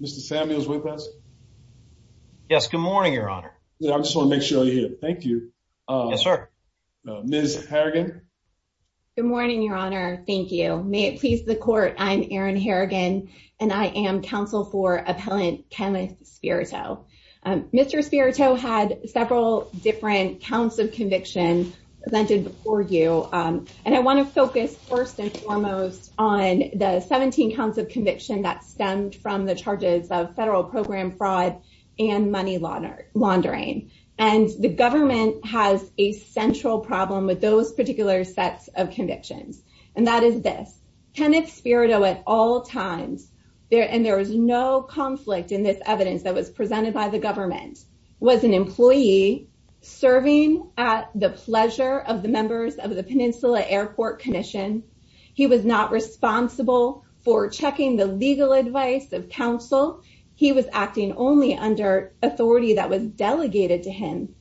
Good morning, your honor. Thank you. May it please the court. I'm Aaron Harrigan, and I am counsel for appellant Kenneth Spirito. Mr. Spirito had several different counts of conviction that stemmed from the charges of federal program fraud, and money laundering. And the government has a central problem with those particular sets of convictions. And that is this Kenneth Spirito at all times there and there was no conflict in this evidence that was presented by the government was an employee serving at the pleasure of the members of the Peninsula Airport Commission. He was not responsible for checking the legal advice of counsel. He was acting only under authority that was delegated to him.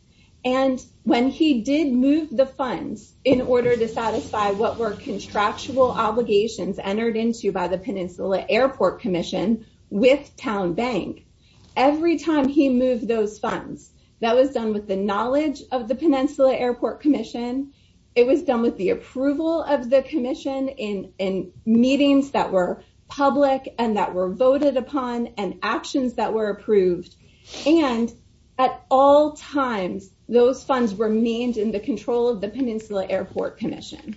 And when he did move the funds in order to satisfy what were contractual obligations entered into by the Peninsula Airport Commission, with town bank, every time he moved those funds, that was done with the knowledge of the Peninsula Airport Commission. It was done with the approval of the commission in in meetings that were public and that were voted upon and actions that were approved. And at all times, those funds remained in the control of the Peninsula Airport Commission.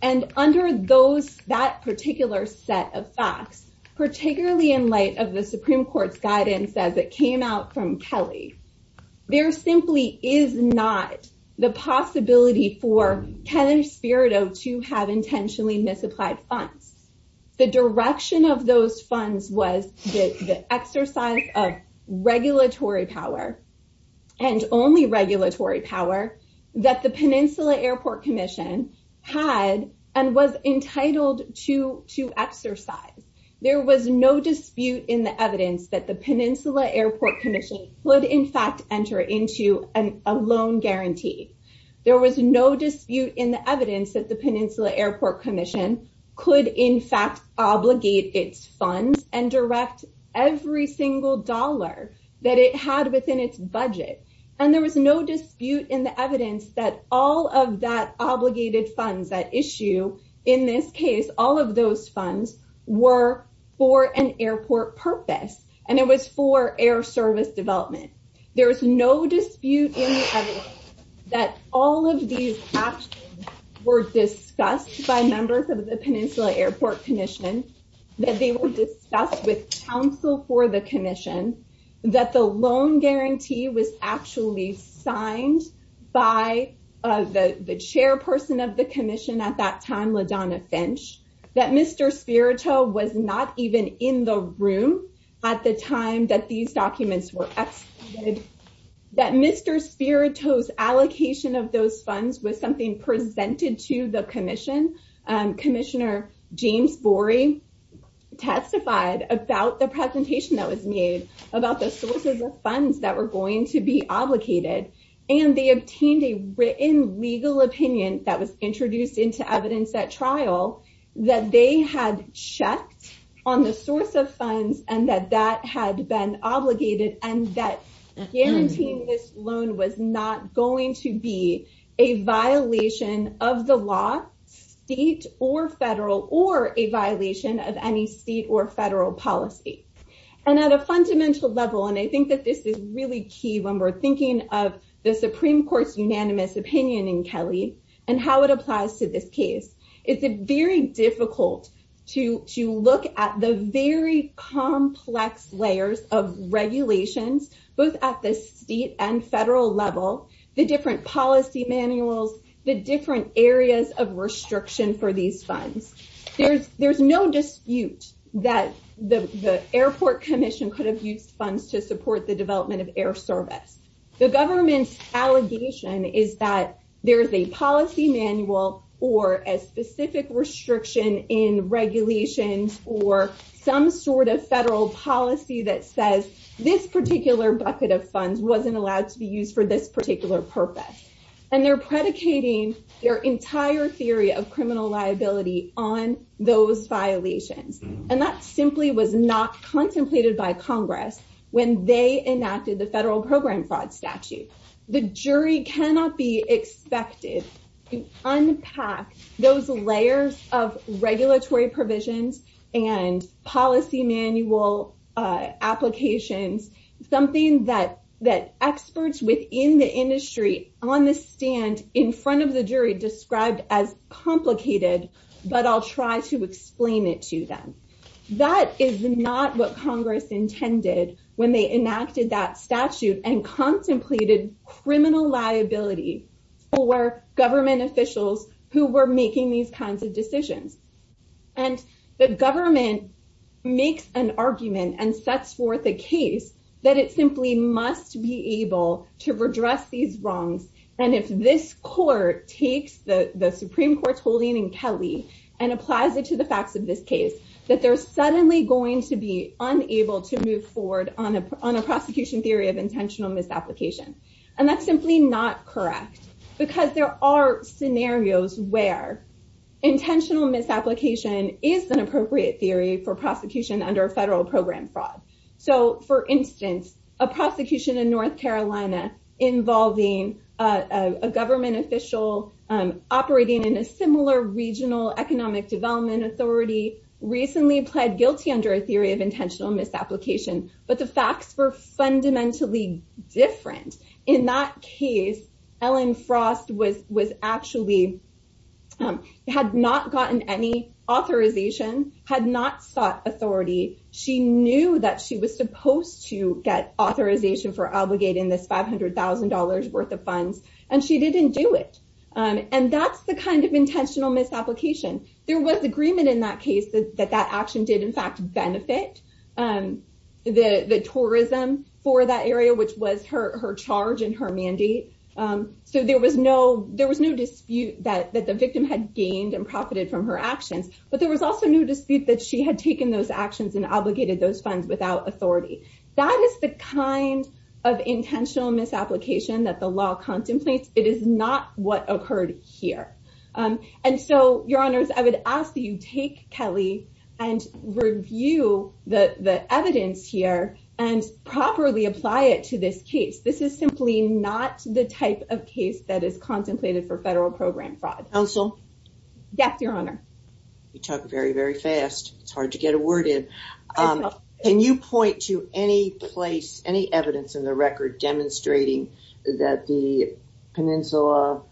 And under those that particular set of facts, particularly in light of Kenneth Spirito to have intentionally misapplied funds. The direction of those funds was the exercise of regulatory power, and only regulatory power that the Peninsula Airport Commission had and was entitled to to exercise. There was no dispute in the evidence that the Peninsula Airport Commission would in fact enter into a loan guarantee. There was no dispute in the evidence that the Peninsula Airport Commission could in fact obligate its funds and direct every single dollar that it had within its budget. And there was no dispute in the evidence that all of that obligated funds that issue in this case, all of those funds were for an airport purpose. And it was for air service development. There was no dispute that all of these were discussed by members of the Peninsula Airport Commission, that they will discuss with counsel for the commission, that the loan guarantee was actually signed by the chairperson of the Finch, that Mr. Spirito was not even in the room at the time that these documents were excluded, that Mr. Spirito's allocation of those funds was something presented to the commission. Commissioner James Borey testified about the presentation that was made about the sources of funds that were going to be that they had checked on the source of funds and that that had been obligated and that guaranteeing this loan was not going to be a violation of the law, state or federal or a violation of any state or federal policy. And at a fundamental level, and I think that this is really key when we're thinking of the Supreme Court's unanimous opinion in Kelly, and how it applies to this case, it's very difficult to look at the very complex layers of regulations, both at the state and federal level, the different policy manuals, the different areas of restriction for these funds. There's no dispute that the airport commission could have used funds to support the development of air service. The government's allegation is that there's a policy manual or a specific restriction in regulations or some sort of federal policy that says this particular bucket of funds wasn't allowed to be used for this particular purpose. And they're predicating their entire theory of criminal liability on those violations. And that simply was not contemplated by Congress. When they enacted the federal program fraud statute, the jury cannot be expected to unpack those layers of regulatory provisions and policy manual applications, something that that experts within the industry on the stand in front of the jury intended when they enacted that statute and contemplated criminal liability for government officials who were making these kinds of decisions. And the government makes an argument and sets forth a case that it simply must be able to redress these wrongs. And if this court takes the Supreme Court's holding in Kelly, and applies it to the facts of this case, that they're suddenly going to be unable to move forward on a prosecution theory of intentional misapplication. And that's simply not correct, because there are scenarios where intentional misapplication is an appropriate theory for prosecution under federal program fraud. So for instance, a prosecution in North Carolina, involving a government official operating in a similar regional economic development authority recently pled guilty under a theory of intentional misapplication, but the facts were fundamentally different. In that case, Ellen Frost was was actually had not gotten any authorization had not sought authority, she knew that she was supposed to get authorization for obligating this $500,000 worth of funds, and she didn't do it. And that's the kind of intentional misapplication. There was agreement in that case, that that action did, in fact, benefit the tourism for that area, which was her charge and her mandate. So there was no there was no dispute that the victim had gained and profited from her actions. But there was also no dispute that she had taken those actions and obligated those funds without authority. That is the kind of intentional misapplication that the law that you take Kelly and review the evidence here and properly apply it to this case. This is simply not the type of case that is contemplated for federal program fraud. Counsel? Yes, Your Honor. You talk very, very fast. It's hard to get a word in. Can you point to any place any evidence in the record demonstrating that the Peninsula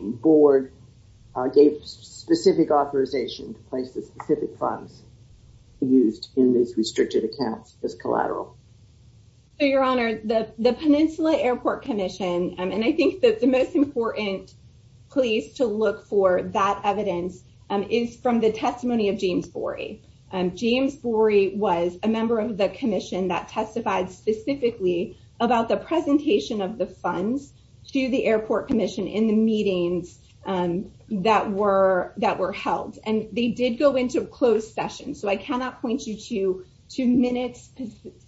Board gave specific authorization to place the specific funds used in these restricted accounts as collateral? Your Honor, the Peninsula Airport Commission, and I think that the most important place to look for that evidence is from the testimony of James Borey was a member of the commission that testified specifically about the presentation of the funds to the Airport Commission in the meetings that were that were held. And they did go into closed session. So I cannot point you to two minutes,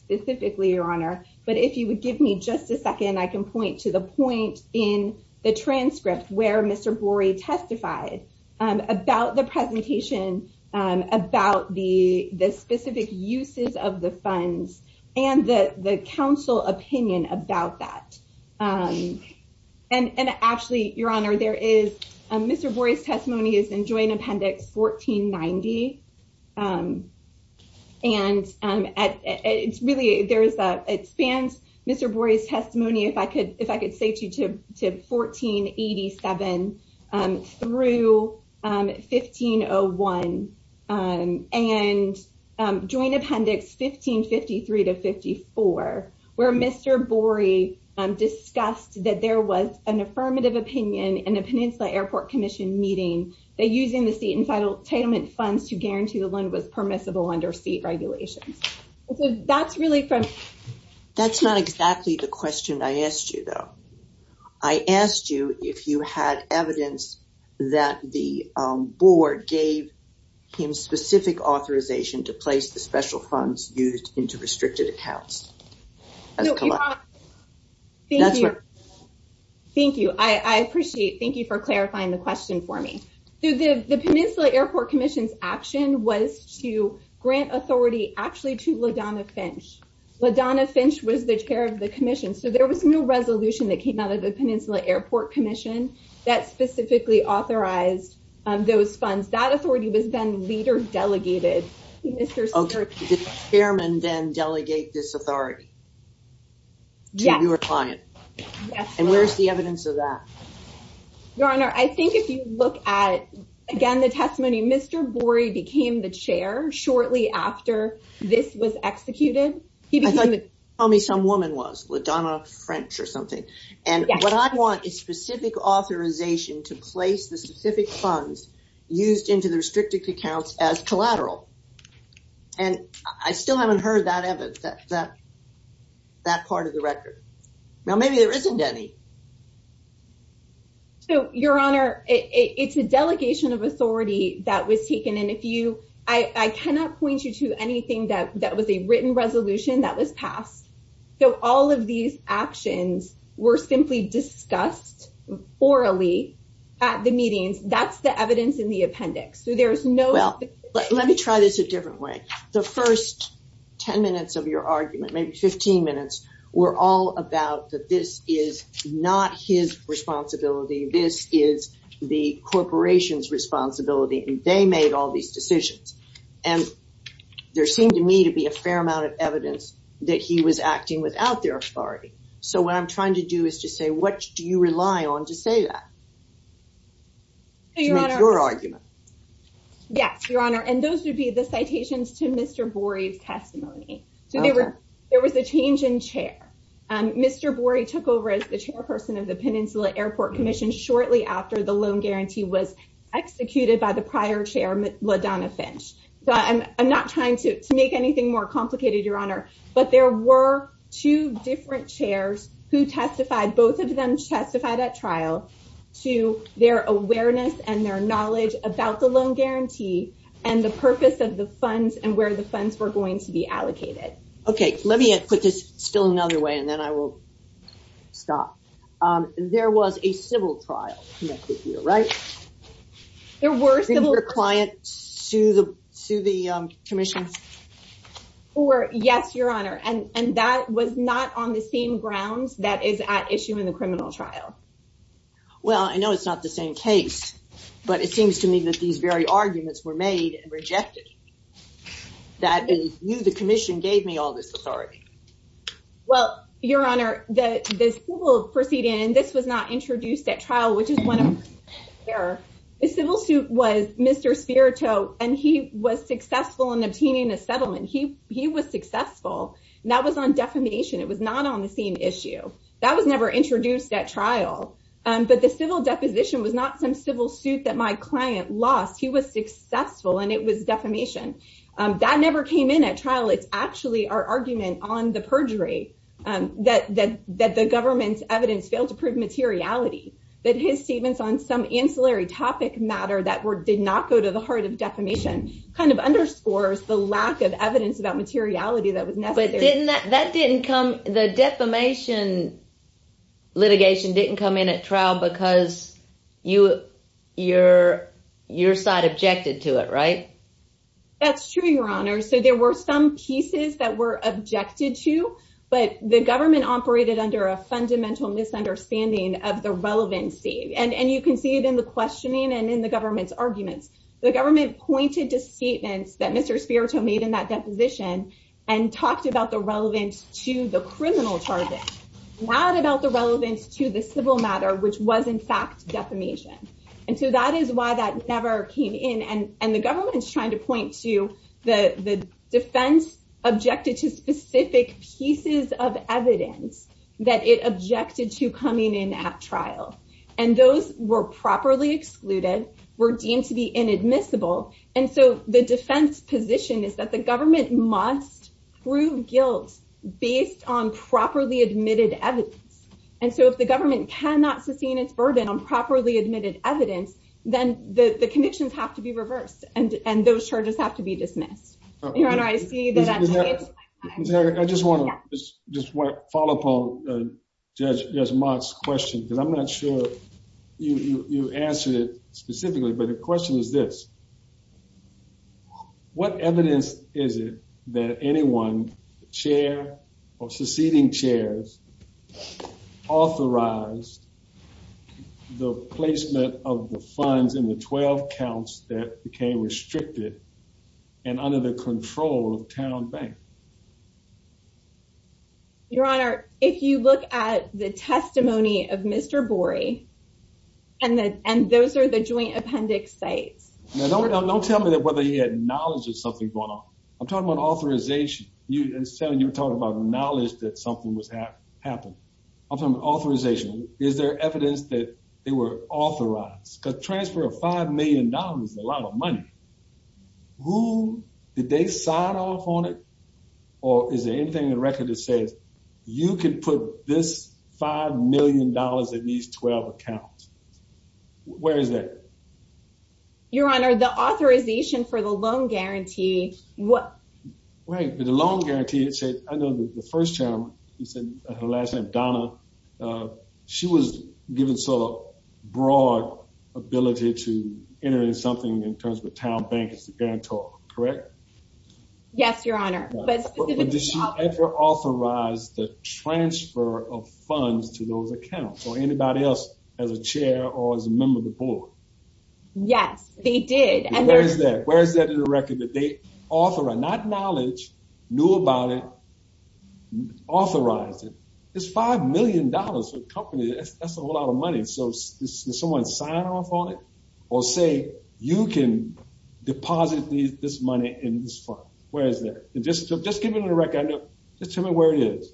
specifically, Your Honor. But if you would give me just a second, I can point to the point in the transcript where Mr. Borey testified about the presentation about the specific uses of the funds and the council opinion about that. And actually, Your Honor, there is Mr. Borey's testimony is in joint appendix 1553 to 54, where Mr. Borey discussed that there was an affirmative opinion in a Peninsula Airport Commission meeting that using the state entitlement funds to guarantee the loan was permissible under state regulations. So that's really from... Thank you. I appreciate. Thank you for clarifying the question for me. The Peninsula Airport Commission's action was to grant authority actually to LaDonna Finch. LaDonna Finch was the chair of the commission. So there was no resolution that came out of the Peninsula Airport Commission that did the chairman then delegate this authority to your client? Yes. And where's the evidence of that? Your Honor, I think if you look at, again, the testimony, Mr. Borey became the chair shortly after this was executed. He became... I thought you were telling me some woman was, LaDonna Finch or something. And I still haven't heard that part of the record. Now, maybe there isn't any. So, Your Honor, it's a delegation of authority that was taken. And if you... I cannot point you to anything that was a written resolution that was passed. So all of these actions were simply discussed orally at the meetings. That's the evidence in the appendix. So there's no... Let me try this a different way. The first 10 minutes of your argument, maybe 15 minutes, were all about that this is not his responsibility. This is the corporation's responsibility. And they made all these decisions. And there seemed to me to be a fair amount of evidence that he was acting without their authority. So what I'm trying to do is to say, what do you rely on to say that? To make your argument. Yes, Your Honor. And those would be the citations to Mr. Borey's testimony. So there was a change in chair. Mr. Borey took over as the chairperson of the Peninsula Airport Commission shortly after the loan guarantee was executed by the prior chair, LaDonna Finch. So I'm not trying to make anything more complicated, Your Honor. But there were two different chairs who testified, both of them testified at trial, to their awareness and their knowledge about the loan guarantee, and the purpose of the funds and where the funds were going to be allocated. Okay, let me put this still another way. And then I will stop. There was a civil trial, right? There were... Did you get to the to the commission? Or yes, Your Honor. And that was not on the same grounds that is at issue in the criminal trial. Well, I know it's not the same case. But it seems to me that these very arguments were made and rejected. That is, you, the commission gave me all this authority. Well, Your Honor, the civil proceeding, and this was not introduced at trial, which is one of the errors. The civil suit was Mr. Spirito, and he was successful in obtaining a settlement. He was successful. And that was on defamation. It was not on the same issue. That was never introduced at trial. But the civil deposition was not some civil suit that my client lost. He was successful, and it was defamation. That never came in at trial. And that was not on the purgatory. That the government's evidence failed to prove materiality. That his statements on some ancillary topic matter that were did not go to the heart of defamation kind of underscores the lack of evidence about materiality that was necessary. But didn't that didn't come the defamation litigation didn't come in at trial because you, your side objected to it, right? That's true, Your Honor. So there were some pieces that were objected to, but the government operated under a fundamental misunderstanding of the relevancy. And you can see it in the questioning and in the government's arguments. The government pointed to statements that Mr. Spirito made in that deposition and talked about the relevance to the criminal target, not about the relevance to the civil matter, which was in fact defamation. And so he's trying to point to the defense objected to specific pieces of evidence that it objected to coming in at trial. And those were properly excluded, were deemed to be inadmissible. And so the defense position is that the government must prove guilt based on properly admitted evidence. And so if the government cannot sustain its burden on properly admitted evidence, then the conditions have to be reversed. And and those charges have to be dismissed. Your Honor, I see that. I just want to just follow up on Judge Mott's question, because I'm not sure you answered it specifically. But the question is this. What evidence is it that anyone, chair or succeeding chairs, authorized the placement of the funds in the 12 counts that became restricted and under the control of Towne Bank? Your Honor, if you look at the testimony of Mr. Borey, and the and those are the joint appendix sites. Now don't tell me that whether he had knowledge of something going on. I'm talking about authorization. You said you were talking about knowledge that something was happening. I'm talking about authorization. Is there evidence that they were authorized? Because transfer of $5 million is a lot of money. Who did they sign off on it? Or is there anything in the record that says you can put this $5 million in these 12 accounts? Where is that? Your Honor, the authorization for the loan guarantee, what? Wait, the loan guarantee, it said, I know the first term, he said, last name Donna. She was given sort of broad ability to enter in something in terms of a town bank as a guarantor, correct? Yes, Your Honor. But did she ever authorize the transfer of funds to those accounts or anybody else as a chair or as a member of the board? Yes, they did. And where is that? Where is that in the record that they authorize? Not knowledge, knew about it, authorized it. It's $5 million for the company. That's a whole lot of money. So someone signed off on it? Or say, you can deposit this money in this fund? Where is that? Just just give me the record. Just tell me where it is.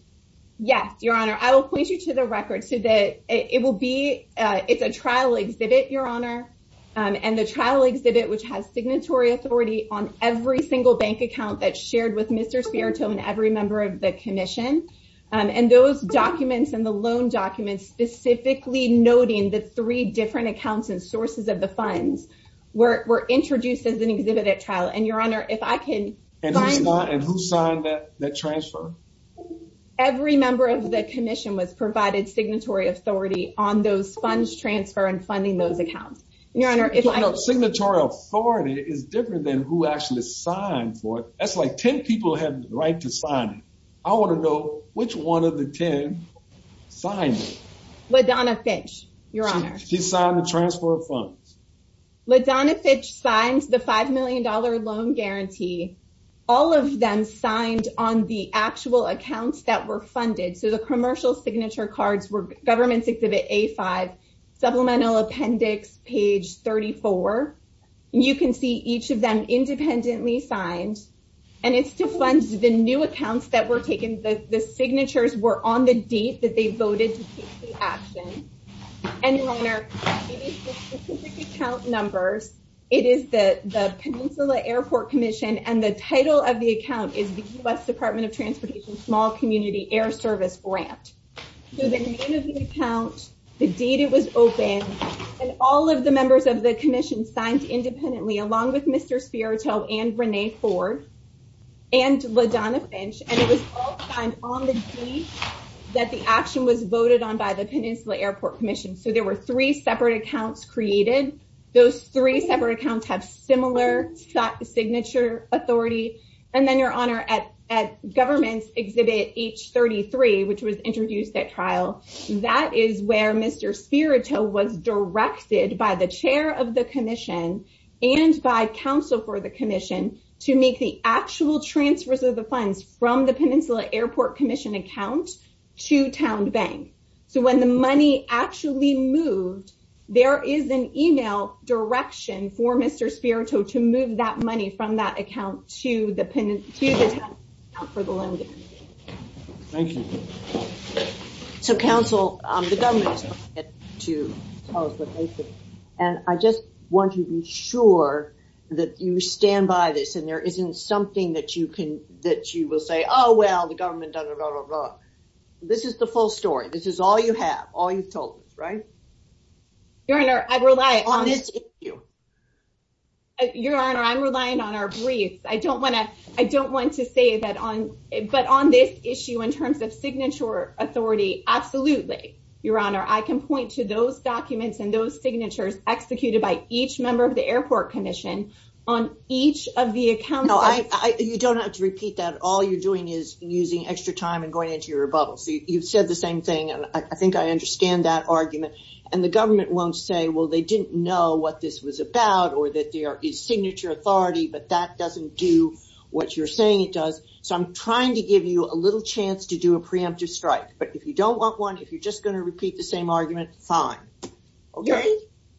Yes, Your Honor, I will point you to the record so that it will be it's a trial exhibit, Your Honor. And the trial exhibit, which has signatory authority on every single bank account that's shared with Mr. Spirito and every member of the commission. And those documents and the loan documents specifically noting the three different accounts and sources of the funds were introduced as an exhibit at trial. And Your Honor, if I can... And who signed that transfer? Every member of the commission was provided signatory authority on those funds transfer and funding those accounts. Your Honor, if I... You know, signatory authority is different than who actually signed for it. That's like 10 people have the right to sign it. I want to know which one of the 10 signed it. LaDonna Fitch, Your Honor. She signed the transfer of funds. LaDonna Fitch signed the $5 million loan guarantee. All of them signed on the actual accounts that were funded. So the commercial signature cards were government exhibit A5, supplemental appendix page 34. You can see each of them independently signed. And it's to fund the new account numbers. It is the Peninsula Airport Commission and the title of the account is the U.S. Department of Transportation small community air service grant. So the name of the account, the date it was opened, and all of the members of the commission signed independently along with Mr. Spirito and Renee Ford and LaDonna Fitch and it was all signed on the date that the action was voted on by the commission. Those three separate accounts have similar signature authority. And then, Your Honor, at government's exhibit H33, which was introduced at trial, that is where Mr. Spirito was directed by the chair of the commission and by counsel for the commission to make the direction for Mr. Spirito to move that money from that account to the penitentiary account for the loan guarantee. Thank you. So, counsel, the government is not yet to tell us what they think. And I just want you to be sure that you stand by this and there isn't something that you can, that you will say, Oh, well, the government doesn't, blah, blah, blah. This is the full story. This is all you have, all you've told us, right? Your Honor, I rely on this issue. Your Honor, I'm relying on our briefs. I don't want to, I don't want to say that on, but on this issue, in terms of signature authority, absolutely. Your Honor, I can point to those documents and those signatures executed by each member of the airport commission on each of the accounts. No, I, you don't have to repeat that. All you're doing is using extra time and going into your rebuttal. So you've said the same thing. And I mean, the government won't say, well, they didn't know what this was about or that there is signature authority, but that doesn't do what you're saying it does. So I'm trying to give you a little chance to do a preemptive strike. But if you don't want one, if you're just going to repeat the same argument, fine. Okay.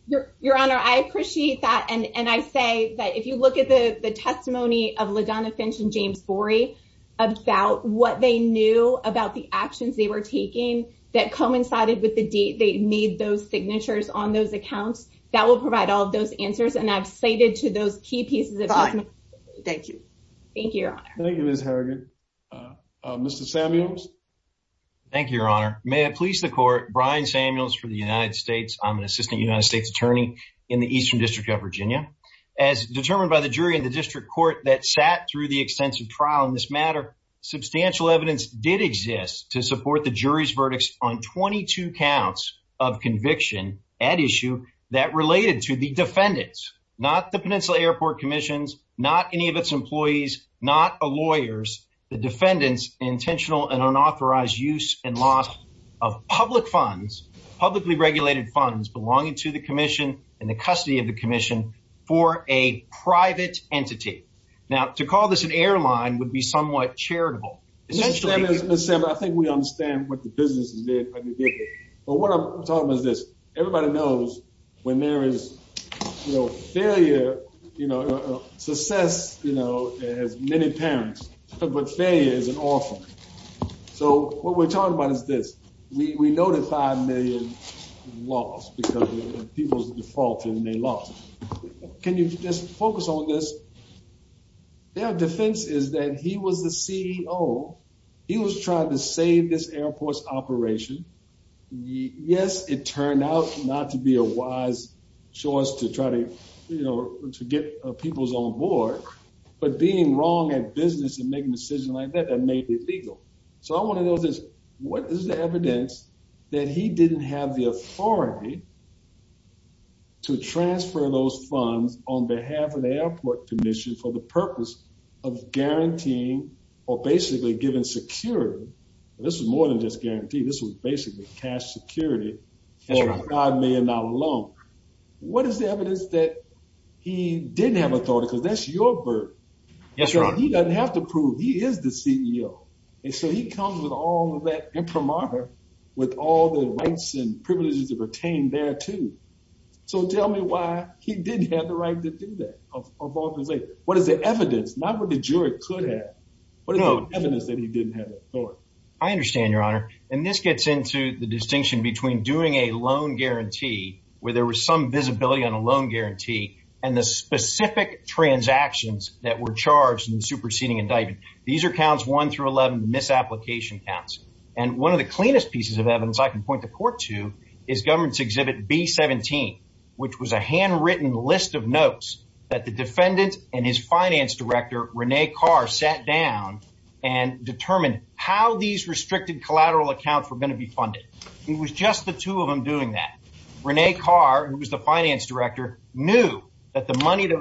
Your Honor, I appreciate that. And I say that if you look at the testimony of LaDonna Finch and James Borey, about what they knew about the actions they were taking that coincided with the date, they made those signatures on those accounts that will provide all of those answers. And I've cited to those key pieces. Thank you. Thank you, Your Honor. Thank you, Ms. Harrigan. Mr. Samuels. Thank you, Your Honor. May it please the court, Brian Samuels for the United States. I'm an assistant United States attorney in the Eastern District of Virginia. As determined by the jury in the district court that sat through the extensive trial in this matter, substantial evidence did exist to support the jury's verdicts on 22 counts of conviction at issue that related to the defendants, not the Peninsula Airport Commission's, not any of its employees, not a lawyer's, the defendants intentional and unauthorized use and loss of public funds, publicly regulated funds belonging to the commission and the custody of the commission for a private entity. Now, to call this an airline would be somewhat charitable. Ms. Samuels, I think we understand what the businesses did. But what I'm talking about is this. Everybody knows when there is, you know, failure, you know, success, you know, as many parents, but failure is an orphan. So what we're talking about is this. We know that 5 million lost because people's default and they lost. Can you just focus on this? Their defense is that he was the CEO. He was trying to save this airport's operation. Yes, it turned out not to be a wise choice to try to, you know, to get people's own board. But being wrong at business and didn't have the authority to transfer those funds on behalf of the airport commission for the purpose of guaranteeing or basically giving security. This is more than just guarantee. This was basically cash security. God may not alone. What is the evidence that he didn't have authority? Because that's your burden. He doesn't have to prove he is the CEO. And so he comes with all of that imprimatur with all the rights and privileges to retain there, too. So tell me why he didn't have the right to do that. What is the evidence? Not what the jury could have. What is the evidence that he didn't have authority? I understand, Your Honor. And this gets into the distinction between doing a loan guarantee where there was some visibility on a loan guarantee and the specific transactions that were charged in the superseding indictment. These are counts one through 11 misapplication counts. And one of the cleanest pieces of evidence I can point the court to is government's exhibit B-17, which was a handwritten list of notes that the defendant and his finance director, Rene Carr, sat down and determined how these restricted collateral accounts were going to be funded. It was just the two of them doing that. Rene Carr, who was the finance director, knew that the money that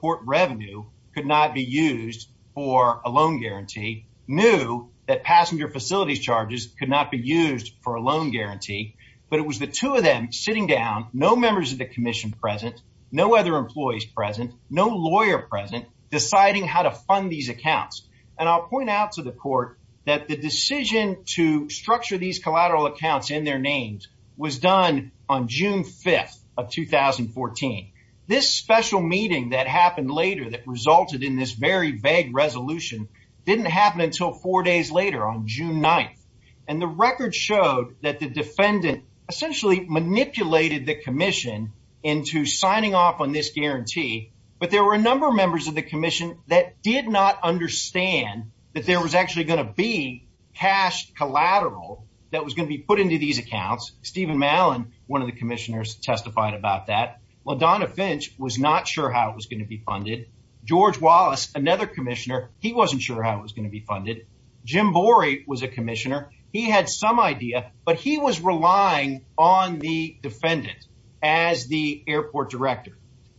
court revenue could not be used for a loan guarantee, knew that passenger facilities charges could not be used for a loan guarantee. But it was the two of them sitting down, no members of the commission present, no other employees present, no lawyer present, deciding how to fund these accounts. And I'll point out to the court that the decision to structure these collateral accounts in their names was done on June 5th of 2014. This special meeting that happened later that resulted in this very vague resolution didn't happen until four days later on June 9th. And the record showed that the defendant essentially manipulated the commission into signing off on this guarantee. But there were a number of members of the commission that did not understand that there was actually going to be cash collateral that was going to be put into these accounts. Stephen Mallon, one of the commissioners, testified about that. LaDonna Finch was not sure how it was going to be funded. George Wallace, another commissioner, he wasn't sure how it was going to be funded. Jim Borey was a commissioner. He had some idea, but he was relying on the defendant as the airport director.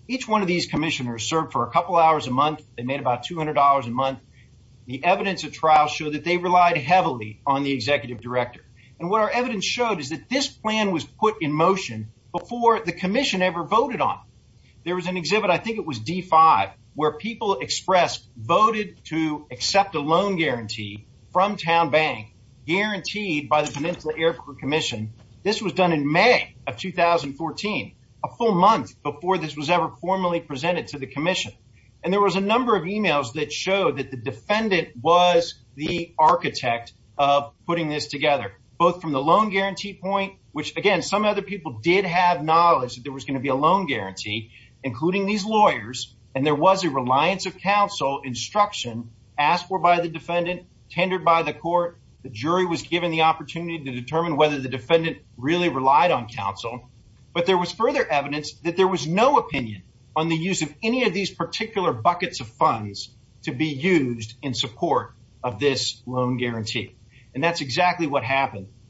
Each one of these commissioners served for a couple hours a month. They made about $200 a month. The evidence of trials showed that they relied heavily on the executive director. And what our evidence showed is that this plan was put in motion before the commission ever voted on it. There was an exhibit, I think it was D5, where people expressed voted to accept a loan guarantee from TowneBank guaranteed by the Peninsula Airport Commission. This was done in May of 2014, a full month before this was ever formally presented to the commission. And there was a number of emails that showed that the defendant was the architect of putting this plan in motion. There was evidence from the loan guarantee point, which, again, some other people did have knowledge that there was going to be a loan guarantee, including these lawyers. And there was a reliance of counsel instruction asked for by the defendant, tendered by the court. The jury was given the opportunity to determine whether the defendant really relied on counsel. But there was further evidence that there was no opinion on the use of any of these funds.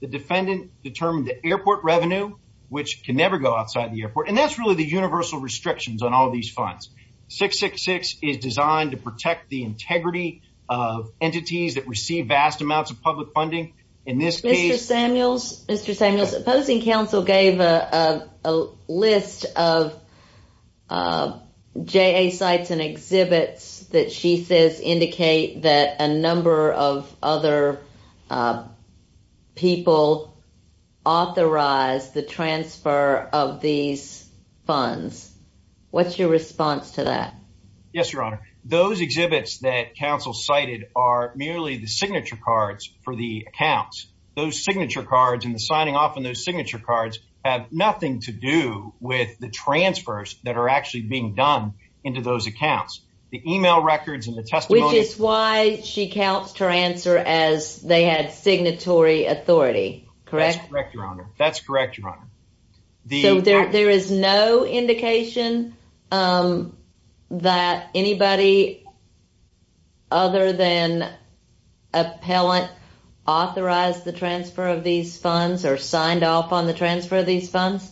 The defendant determined the airport revenue, which can never go outside the airport. And that's really the universal restrictions on all these funds. 666 is designed to protect the integrity of entities that receive vast amounts of public funding. In this case, Mr. Samuels, Mr. Samuels, opposing counsel gave a list of J.A. sites and authorized the transfer of these funds. What's your response to that? Yes, Your Honor. Those exhibits that counsel cited are merely the signature cards for the accounts. Those signature cards and the signing off on those signature cards have nothing to do with the transfers that are actually being done into those accounts. The correct. Correct, Your Honor. That's correct, Your Honor. The there is no indication, um, that anybody other than appellant authorized the transfer of these funds are signed off on the transfer of these funds.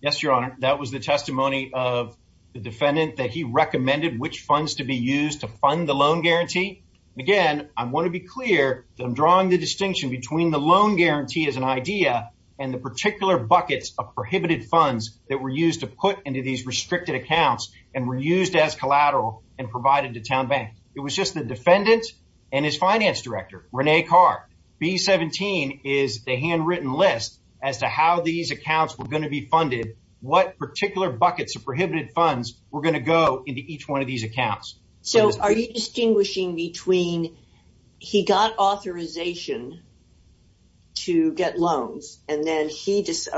Yes, Your Honor. That was the testimony of the defendant that he recommended which funds to be used to fund the loan guarantee. Again, I want to be clear that I'm drawing the distinction between the loan guarantee as an idea and the particular buckets of prohibited funds that were used to put into these restricted accounts and were used as collateral and provided to town bank. It was just the defendant and his finance director, Rene Carr. B-17 is the handwritten list as to how these funds were used. I'm just drawing the distinction between he got authorization to get loans and then he just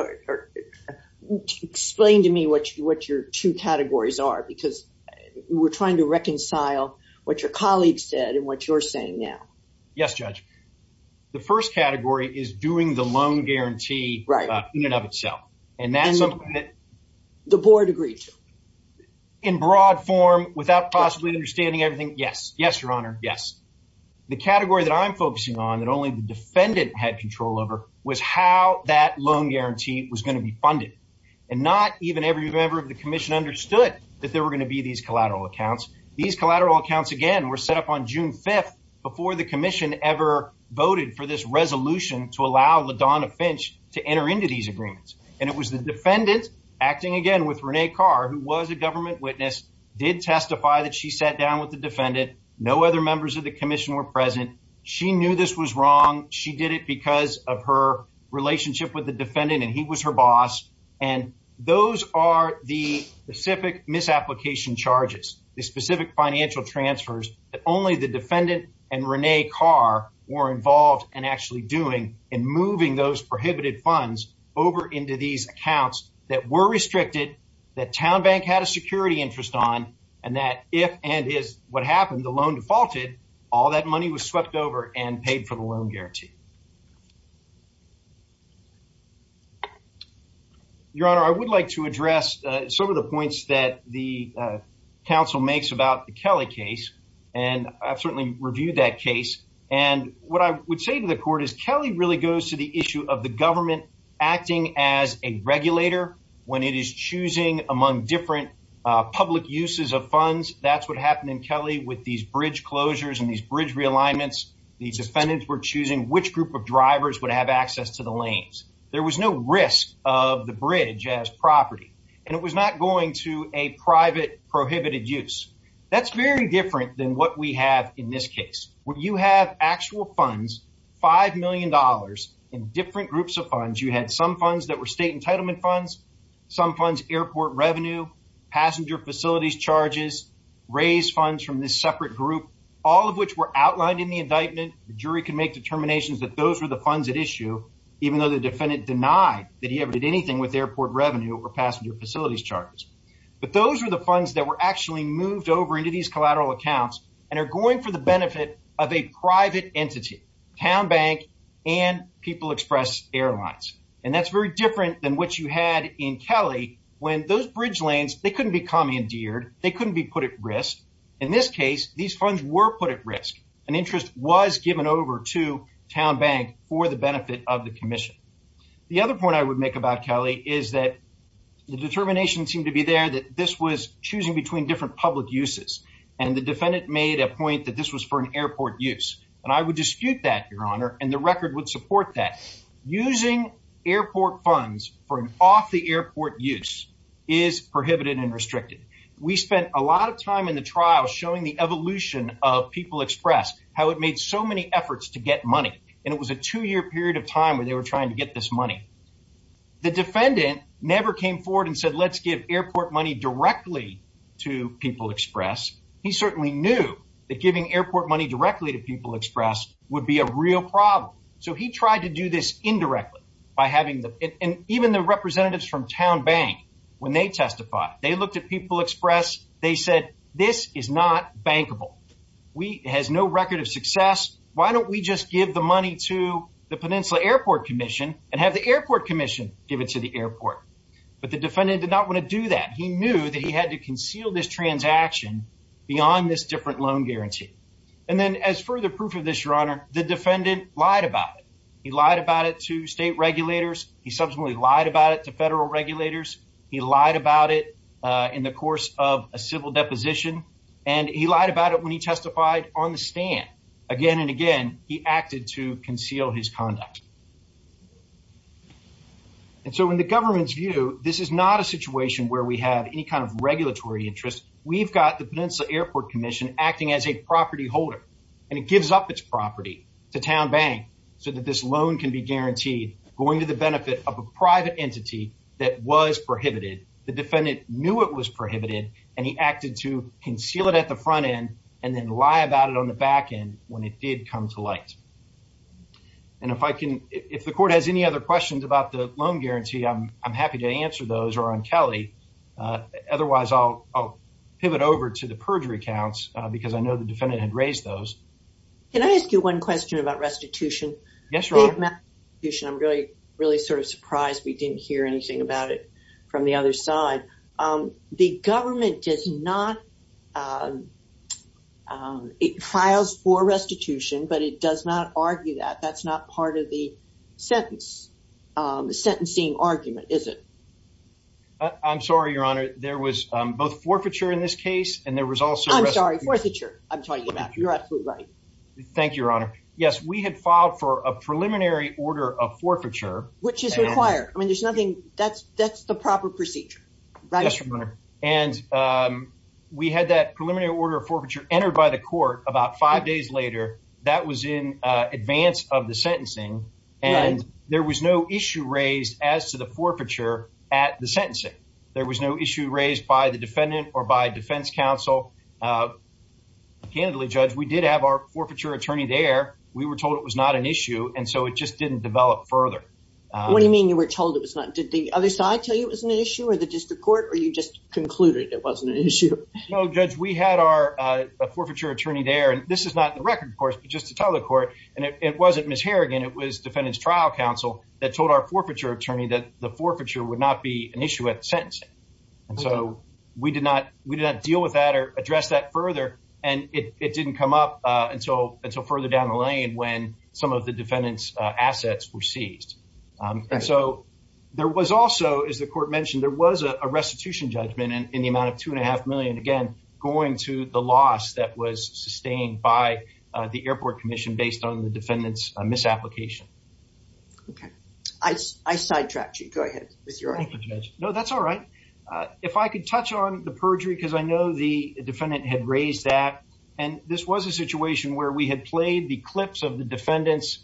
explained to me what your two categories are because we're trying to reconcile what your colleagues said and what you're saying now. Yes, Judge. The first category is doing the loan guarantee in and of itself. And that's something that the board agreed to. In broad form, without possibly understanding everything? Yes. Yes, Your Honor. Yes. The category that I'm focusing on that only the defendant had control over was how that loan guarantee was going to be funded and not even every member of the commission understood that there were going to be these collateral accounts. These collateral accounts again were set up on June 5th before the commission ever voted for this resolution to allow LaDonna Finch to enter into these agreements. And it was the defendant acting again with Rene Carr, who was a government witness, did testify that she sat down with the defendant. No other members of the commission were present. She knew this was wrong. She did it because of her relationship with the defendant and he was her boss. And those are the specific misapplication charges, the specific financial transfers that only the defendant and Rene Carr were involved in actually doing and moving those prohibited funds over into these accounts that were restricted, that TowneBank had a security interest on, and that if and is what happened, the loan defaulted. All that money was swept over and paid for the loan guarantee. Your Honor, I would like to address some of the points that the council makes about the Kelly case, and I've certainly reviewed that case. And what I would say to the court is Kelly really goes to the issue of the government acting as a regulator when it is choosing among different public uses of funds. That's what happened in Kelly with these bridge closures and these bridge realignments. The defendants were choosing which group of drivers would have access to the lanes. There was no risk of the bridge as property, and it was not going to a private prohibited use. That's very different than what we have in this case, where you have actual funds, $5 million in different groups of funds. You had some funds that were state entitlement funds, some funds, airport revenue, passenger facilities charges, raise funds from this separate group, all of which were outlined in the indictment. The jury can make determinations that those were the funds at issue, even though the defendant denied that he ever did anything with airport revenue or passenger facilities charges. But those were the funds that were actually moved over into these collateral accounts and are going for the benefit of a private entity, TowneBank and People Express Airlines, and that's very different than what you had in Kelly when those bridge lanes, they couldn't be commandeered, they couldn't be put at risk. In this case, these funds were put at risk, and interest was given over to TowneBank for the benefit of the commission. The other point I would make about Kelly is that the determination seemed to be there that this was choosing between different public uses, and the defendant made a point that this was for an airport use, and I would dispute that, Your Honor, and the record would support that. Using airport funds for an off-the-airport use is prohibited and restricted. We spent a lot of time in the trial showing the evolution of People Express, how it made so many efforts to get money, and it was a two-year period of time where they were trying to get this money. The defendant never came forward and said, let's give airport money directly to People Express. He certainly knew that giving airport money directly to People Express would be a real problem, so he tried to do this indirectly by having the – and even the representatives from TowneBank, when they testified, they looked at People Express, they said, this is not bankable. It has no record of success. Why don't we just give the money to the Peninsula Airport Commission and have the airport commission give it to the airport? But the defendant did not want to do that. He knew that he had to conceal this transaction beyond this different loan guarantee. And then as further proof of this, Your Honor, the defendant lied about it. He lied about it to state regulators. He subsequently lied about it to federal regulators. He lied about it in the course of a civil deposition, and he lied about it when he testified on the stand. Again and again, he acted to conceal his conduct. And so in the government's view, this is not a situation where we have any kind of regulatory interest. We've got the Peninsula Airport Commission acting as a property holder, and it gives up its property to TowneBank so that this loan can be guaranteed, going to the benefit of a private entity that was prohibited. The defendant knew it was prohibited, and he acted to conceal it at the front end and then lie about it on the back end when it did come to light. And if I can, if the court has any other questions about the loan guarantee, I'm happy to answer those or on Kelly. Otherwise, I'll pivot over to the perjury counts because I know the defendant had raised those. Can I ask you one question about restitution? Yes, Your Honor. I'm really, really sort of surprised we didn't hear anything about it from the other side. The government does not, it files for restitution, but it does not argue that. That's not part of the sentence, sentencing argument, is it? I'm sorry, Your Honor. There was both forfeiture in this case, and there was also restitution. I'm sorry, forfeiture, I'm talking about. You're absolutely right. Thank you, Your Honor. Yes, we had filed for a preliminary order of forfeiture. Which is required. I mean, there's nothing, that's the proper procedure, right? Yes, Your Honor. And we had that preliminary order of forfeiture entered by the court about five days later. That was in advance of the sentencing, and there was no issue raised as to the forfeiture at the sentencing. There was no issue raised by the defendant or by defense counsel. Candidly, Judge, we did have our forfeiture attorney there. We were told it was not an issue, and so it just didn't develop further. What do you mean you were told it was not? Did the other side tell you it was an issue, or the district court, or you just concluded it wasn't an issue? No, Judge, we had our forfeiture attorney there, and this is not in the record, of course, but just to tell the court, and it wasn't Ms. Harrigan, it was defendant's trial counsel that told our forfeiture attorney that the forfeiture would not be an issue at the sentencing. And so we did not deal with that or address that further, and it didn't come up until further down the lane when some of the defendant's assets were seized. And so there was also, as the court mentioned, there was a restitution judgment in the amount of $2.5 million, again, going to the loss that was sustained by the airport commission based on the defendant's misapplication. Okay. I sidetracked you. Go ahead with your argument. No, that's all right. If I could touch on the perjury, because I know the defendant had raised that, and this was a situation where we had played the clips of the defendant's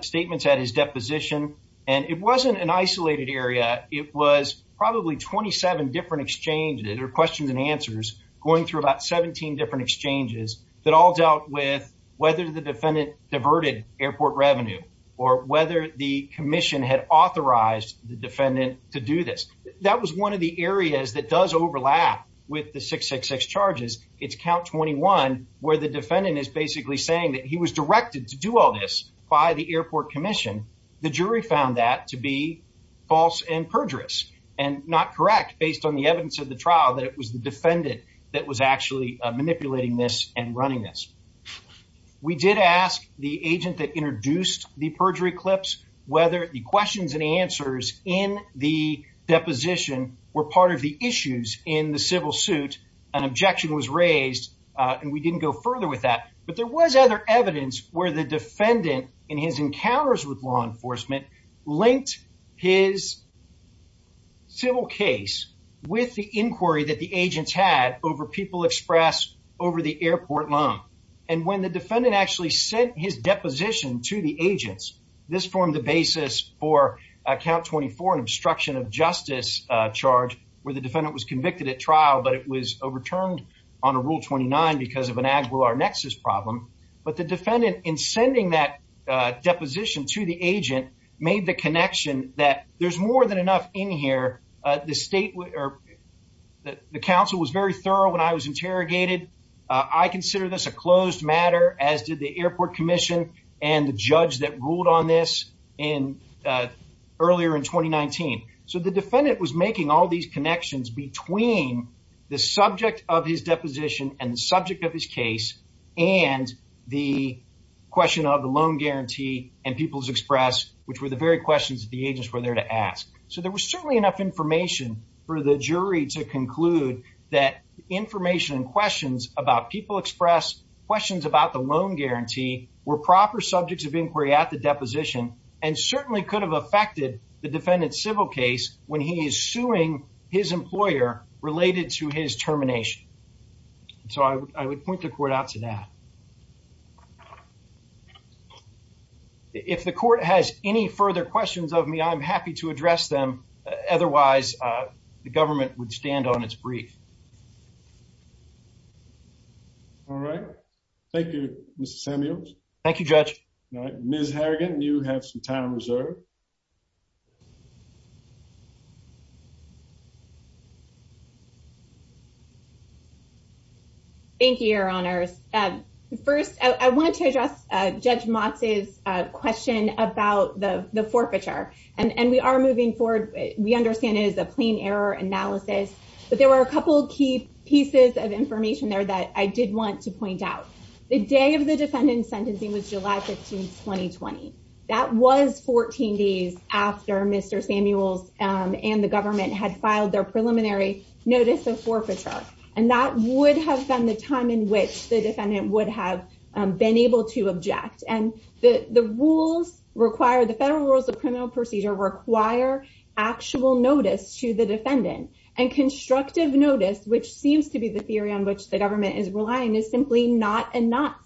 statements at his deposition, and it wasn't an isolated area. It was probably 27 different exchanges or questions and answers going through about 17 different exchanges that all dealt with whether the defendant diverted airport revenue or whether the commission had authorized the defendant to do this. That was one of the areas that does overlap with the 666 charges. It's count 21, where the defendant is basically saying that he was directed to do all this by the airport commission. The jury found that to be false and perjurous and not correct, based on the evidence of the trial, that it was the defendant that was actually manipulating this and running this. We did ask the agent that introduced the perjury clips whether the questions and answers in the deposition were part of the issues in the civil suit. An objection was raised, and we didn't go further with that. But there was other evidence where the defendant, in his encounters with law enforcement, linked his civil case with the inquiry that the agents had over people expressed over the airport loan. And when the defendant actually sent his deposition to the agents, this formed the basis for count 24, an obstruction of justice charge, where the defendant was convicted at trial, but it was overturned on a rule 29 because of an Aguilar nexus problem. But the defendant, in sending that deposition to the agent, made the connection that there's more than enough in here. The state or the council was very thorough when I was interrogated. I consider this a closed matter, as did the airport commission and the judge that ruled on this in earlier in 2019. So the defendant was making all these connections between the subject of his deposition and the subject of his case and the question of the loan guarantee and people's express, which were the very questions that the agents were there to ask. So there was certainly enough information for the jury to conclude that information and questions about people express, questions about the loan guarantee were proper subjects of inquiry at the deposition and certainly could have affected the defendant's civil case when he is suing his employer related to his termination. So I would point the court out to that. If the court has any further questions of me, I'm happy to address them. Otherwise, the government would stand on its brief. All right. Thank you, Mr Samuels. Thank you, Judge Miss Harrigan. You have some time reserved. Thank you, Your Honors. First, I want to address Judge Moxie's question about the forfeiture and we are moving forward. We understand it is a plain error analysis, but there were a couple of key pieces of information there that I did want to point out. The day of the defendant's sentencing was July 15, 2020. That was 14 days after Mr. Samuels and the government had filed their preliminary notice of forfeiture. And that would have been the time in which the defendant would have been able to object. And the federal rules of criminal procedure require actual notice to the defendant and constructive notice, which seems to be the theory on which the government is relying, is simply not enough.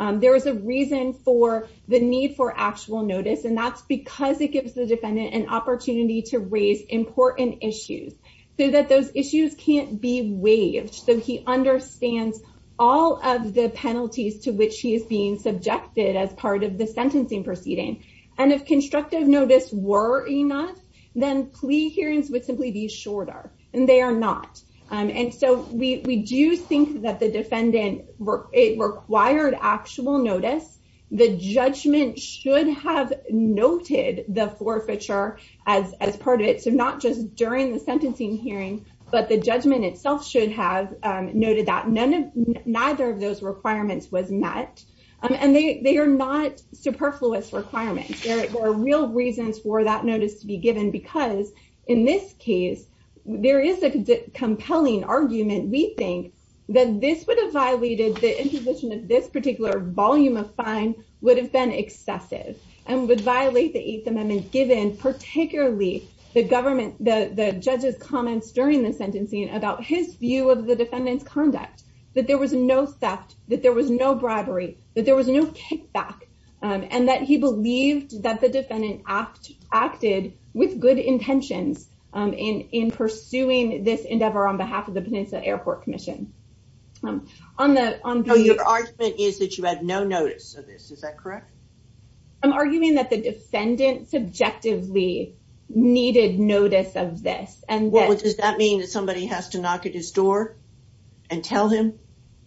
There is a reason for the need for actual notice, and that's because it gives the defendant an opportunity to raise important issues so that those issues can't be waived. So he understands all of the penalties to which he is being subjected as part of the sentencing proceeding. And if constructive notice were enough, then plea hearings would simply be shorter, and they are not. And so we do think that the defendant required actual notice. The judgment should have noted the forfeiture as part of it. So not just during the sentencing hearing, but the judgment itself should have noted that. Neither of those requirements was met, and they are not superfluous requirements. There are real reasons for that notice to be given, because in this case, there is a compelling argument. We think that this would have violated the imposition of this particular volume of fine would have been excessive and would violate the 8th Amendment, given particularly the government, the judge's comments during the sentencing about his view of the defendant's conduct. That there was no theft, that there was no bribery, that there was no kickback, and that he believed that the defendant acted with good intentions in pursuing this endeavor on behalf of the Peninsula Airport Commission. On the on your argument is that you had no notice of this. Is that correct? I'm arguing that the defendant subjectively needed notice of this, and what does that mean that somebody has to knock at his door and tell him?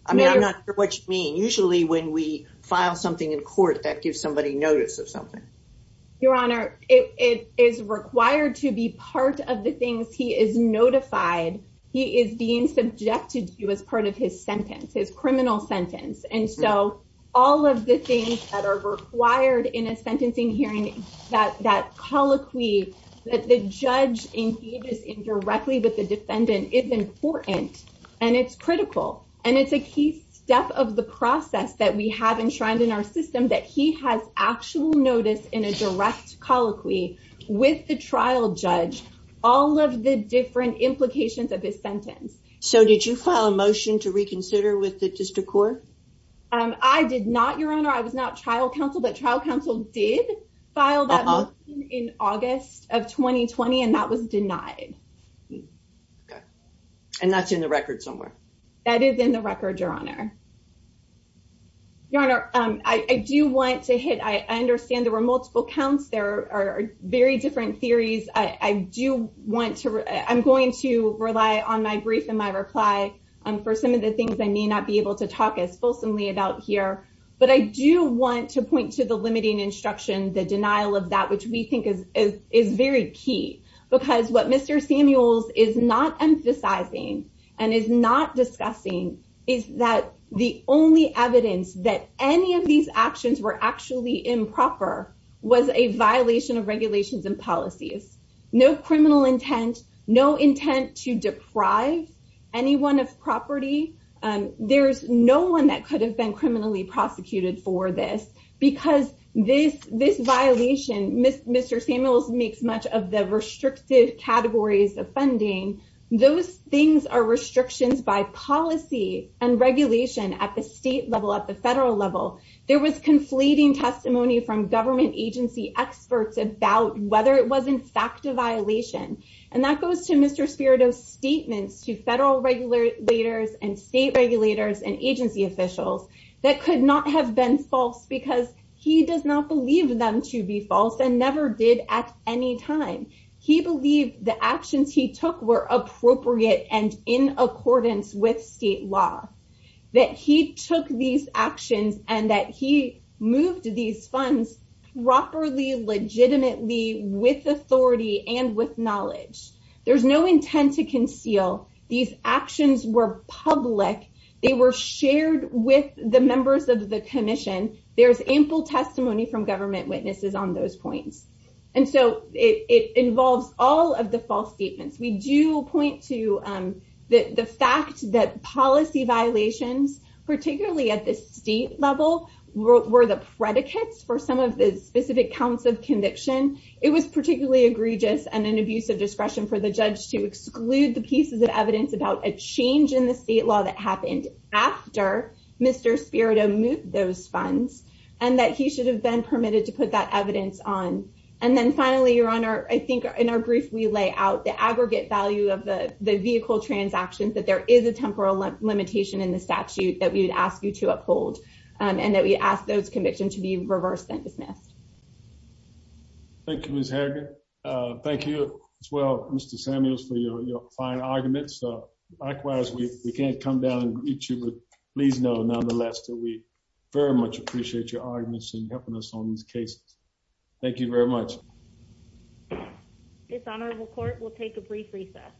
I mean, I'm not sure what you mean. Usually, when we file something in court that gives somebody notice of something. Your Honor, it is required to be part of the things he is notified. He is being subjected to as part of his sentence, his criminal sentence. And so all of the things that are required in a sentencing hearing that that colloquy that the judge engages indirectly with the defendant is important and it's critical. And it's a key step of the process that we have enshrined in our system that he has actual notice in a direct colloquy with the trial judge, all of the different implications of this sentence. So did you file a motion to reconsider with the District Court? I did not, Your Honor. I was not trial counsel, but trial counsel did file that in August of 2020, and that was denied. And that's in the record somewhere. That is in the record, Your Honor. Your Honor, I do want to hit, I understand there were multiple counts. There are very different theories. I do want to, I'm going to rely on my brief and my reply for some of the things I may not be able to talk as fulsomely about here. But I do want to point to the limiting instruction, the denial of that, which we think is very key. Because what Mr. Samuels is not emphasizing and is not discussing is that the only evidence that any of these actions were actually improper was a violation of regulations and policies. No criminal intent, no intent to deprive anyone of property. There's no one that could have been criminally prosecuted for this. Because this violation, Mr. Samuels makes much of the restrictive categories of funding. Those things are restrictions by policy and regulation at the state level, at the federal level. There was conflating testimony from government agency experts about whether it was in fact a violation. And that goes to Mr. Spirido's statements to federal regulators and state regulators and agency officials that could not have been false. Because he does not believe them to be false and never did at any time. He believed the actions he took were appropriate and in accordance with state law. That he took these actions and that he moved these funds properly, legitimately, with authority and with knowledge. There's no intent to conceal. These actions were public. They were shared with the members of the commission. There's ample testimony from government witnesses on those points. And so it involves all of the false statements. We do point to the fact that policy violations, particularly at the state level, were the predicates for some of the specific counts of conviction. It was particularly egregious and an abuse of discretion for the judge to exclude the pieces of evidence about a change in the state law that happened after Mr. Spirido moved those funds. And that he should have been permitted to put that evidence on. And then finally, Your Honor, I think in our brief we lay out the aggregate value of the vehicle transactions. That there is a temporal limitation in the statute that we would ask you to uphold. And that we ask those convictions to be reversed and dismissed. Thank you, Ms. Harrigan. Thank you as well, Mr. Samuels, for your fine arguments. Likewise, we can't come down and beat you, but please know nonetheless that we very much appreciate your arguments and helping us on these cases. Thank you very much. This honorable court will take a brief recess.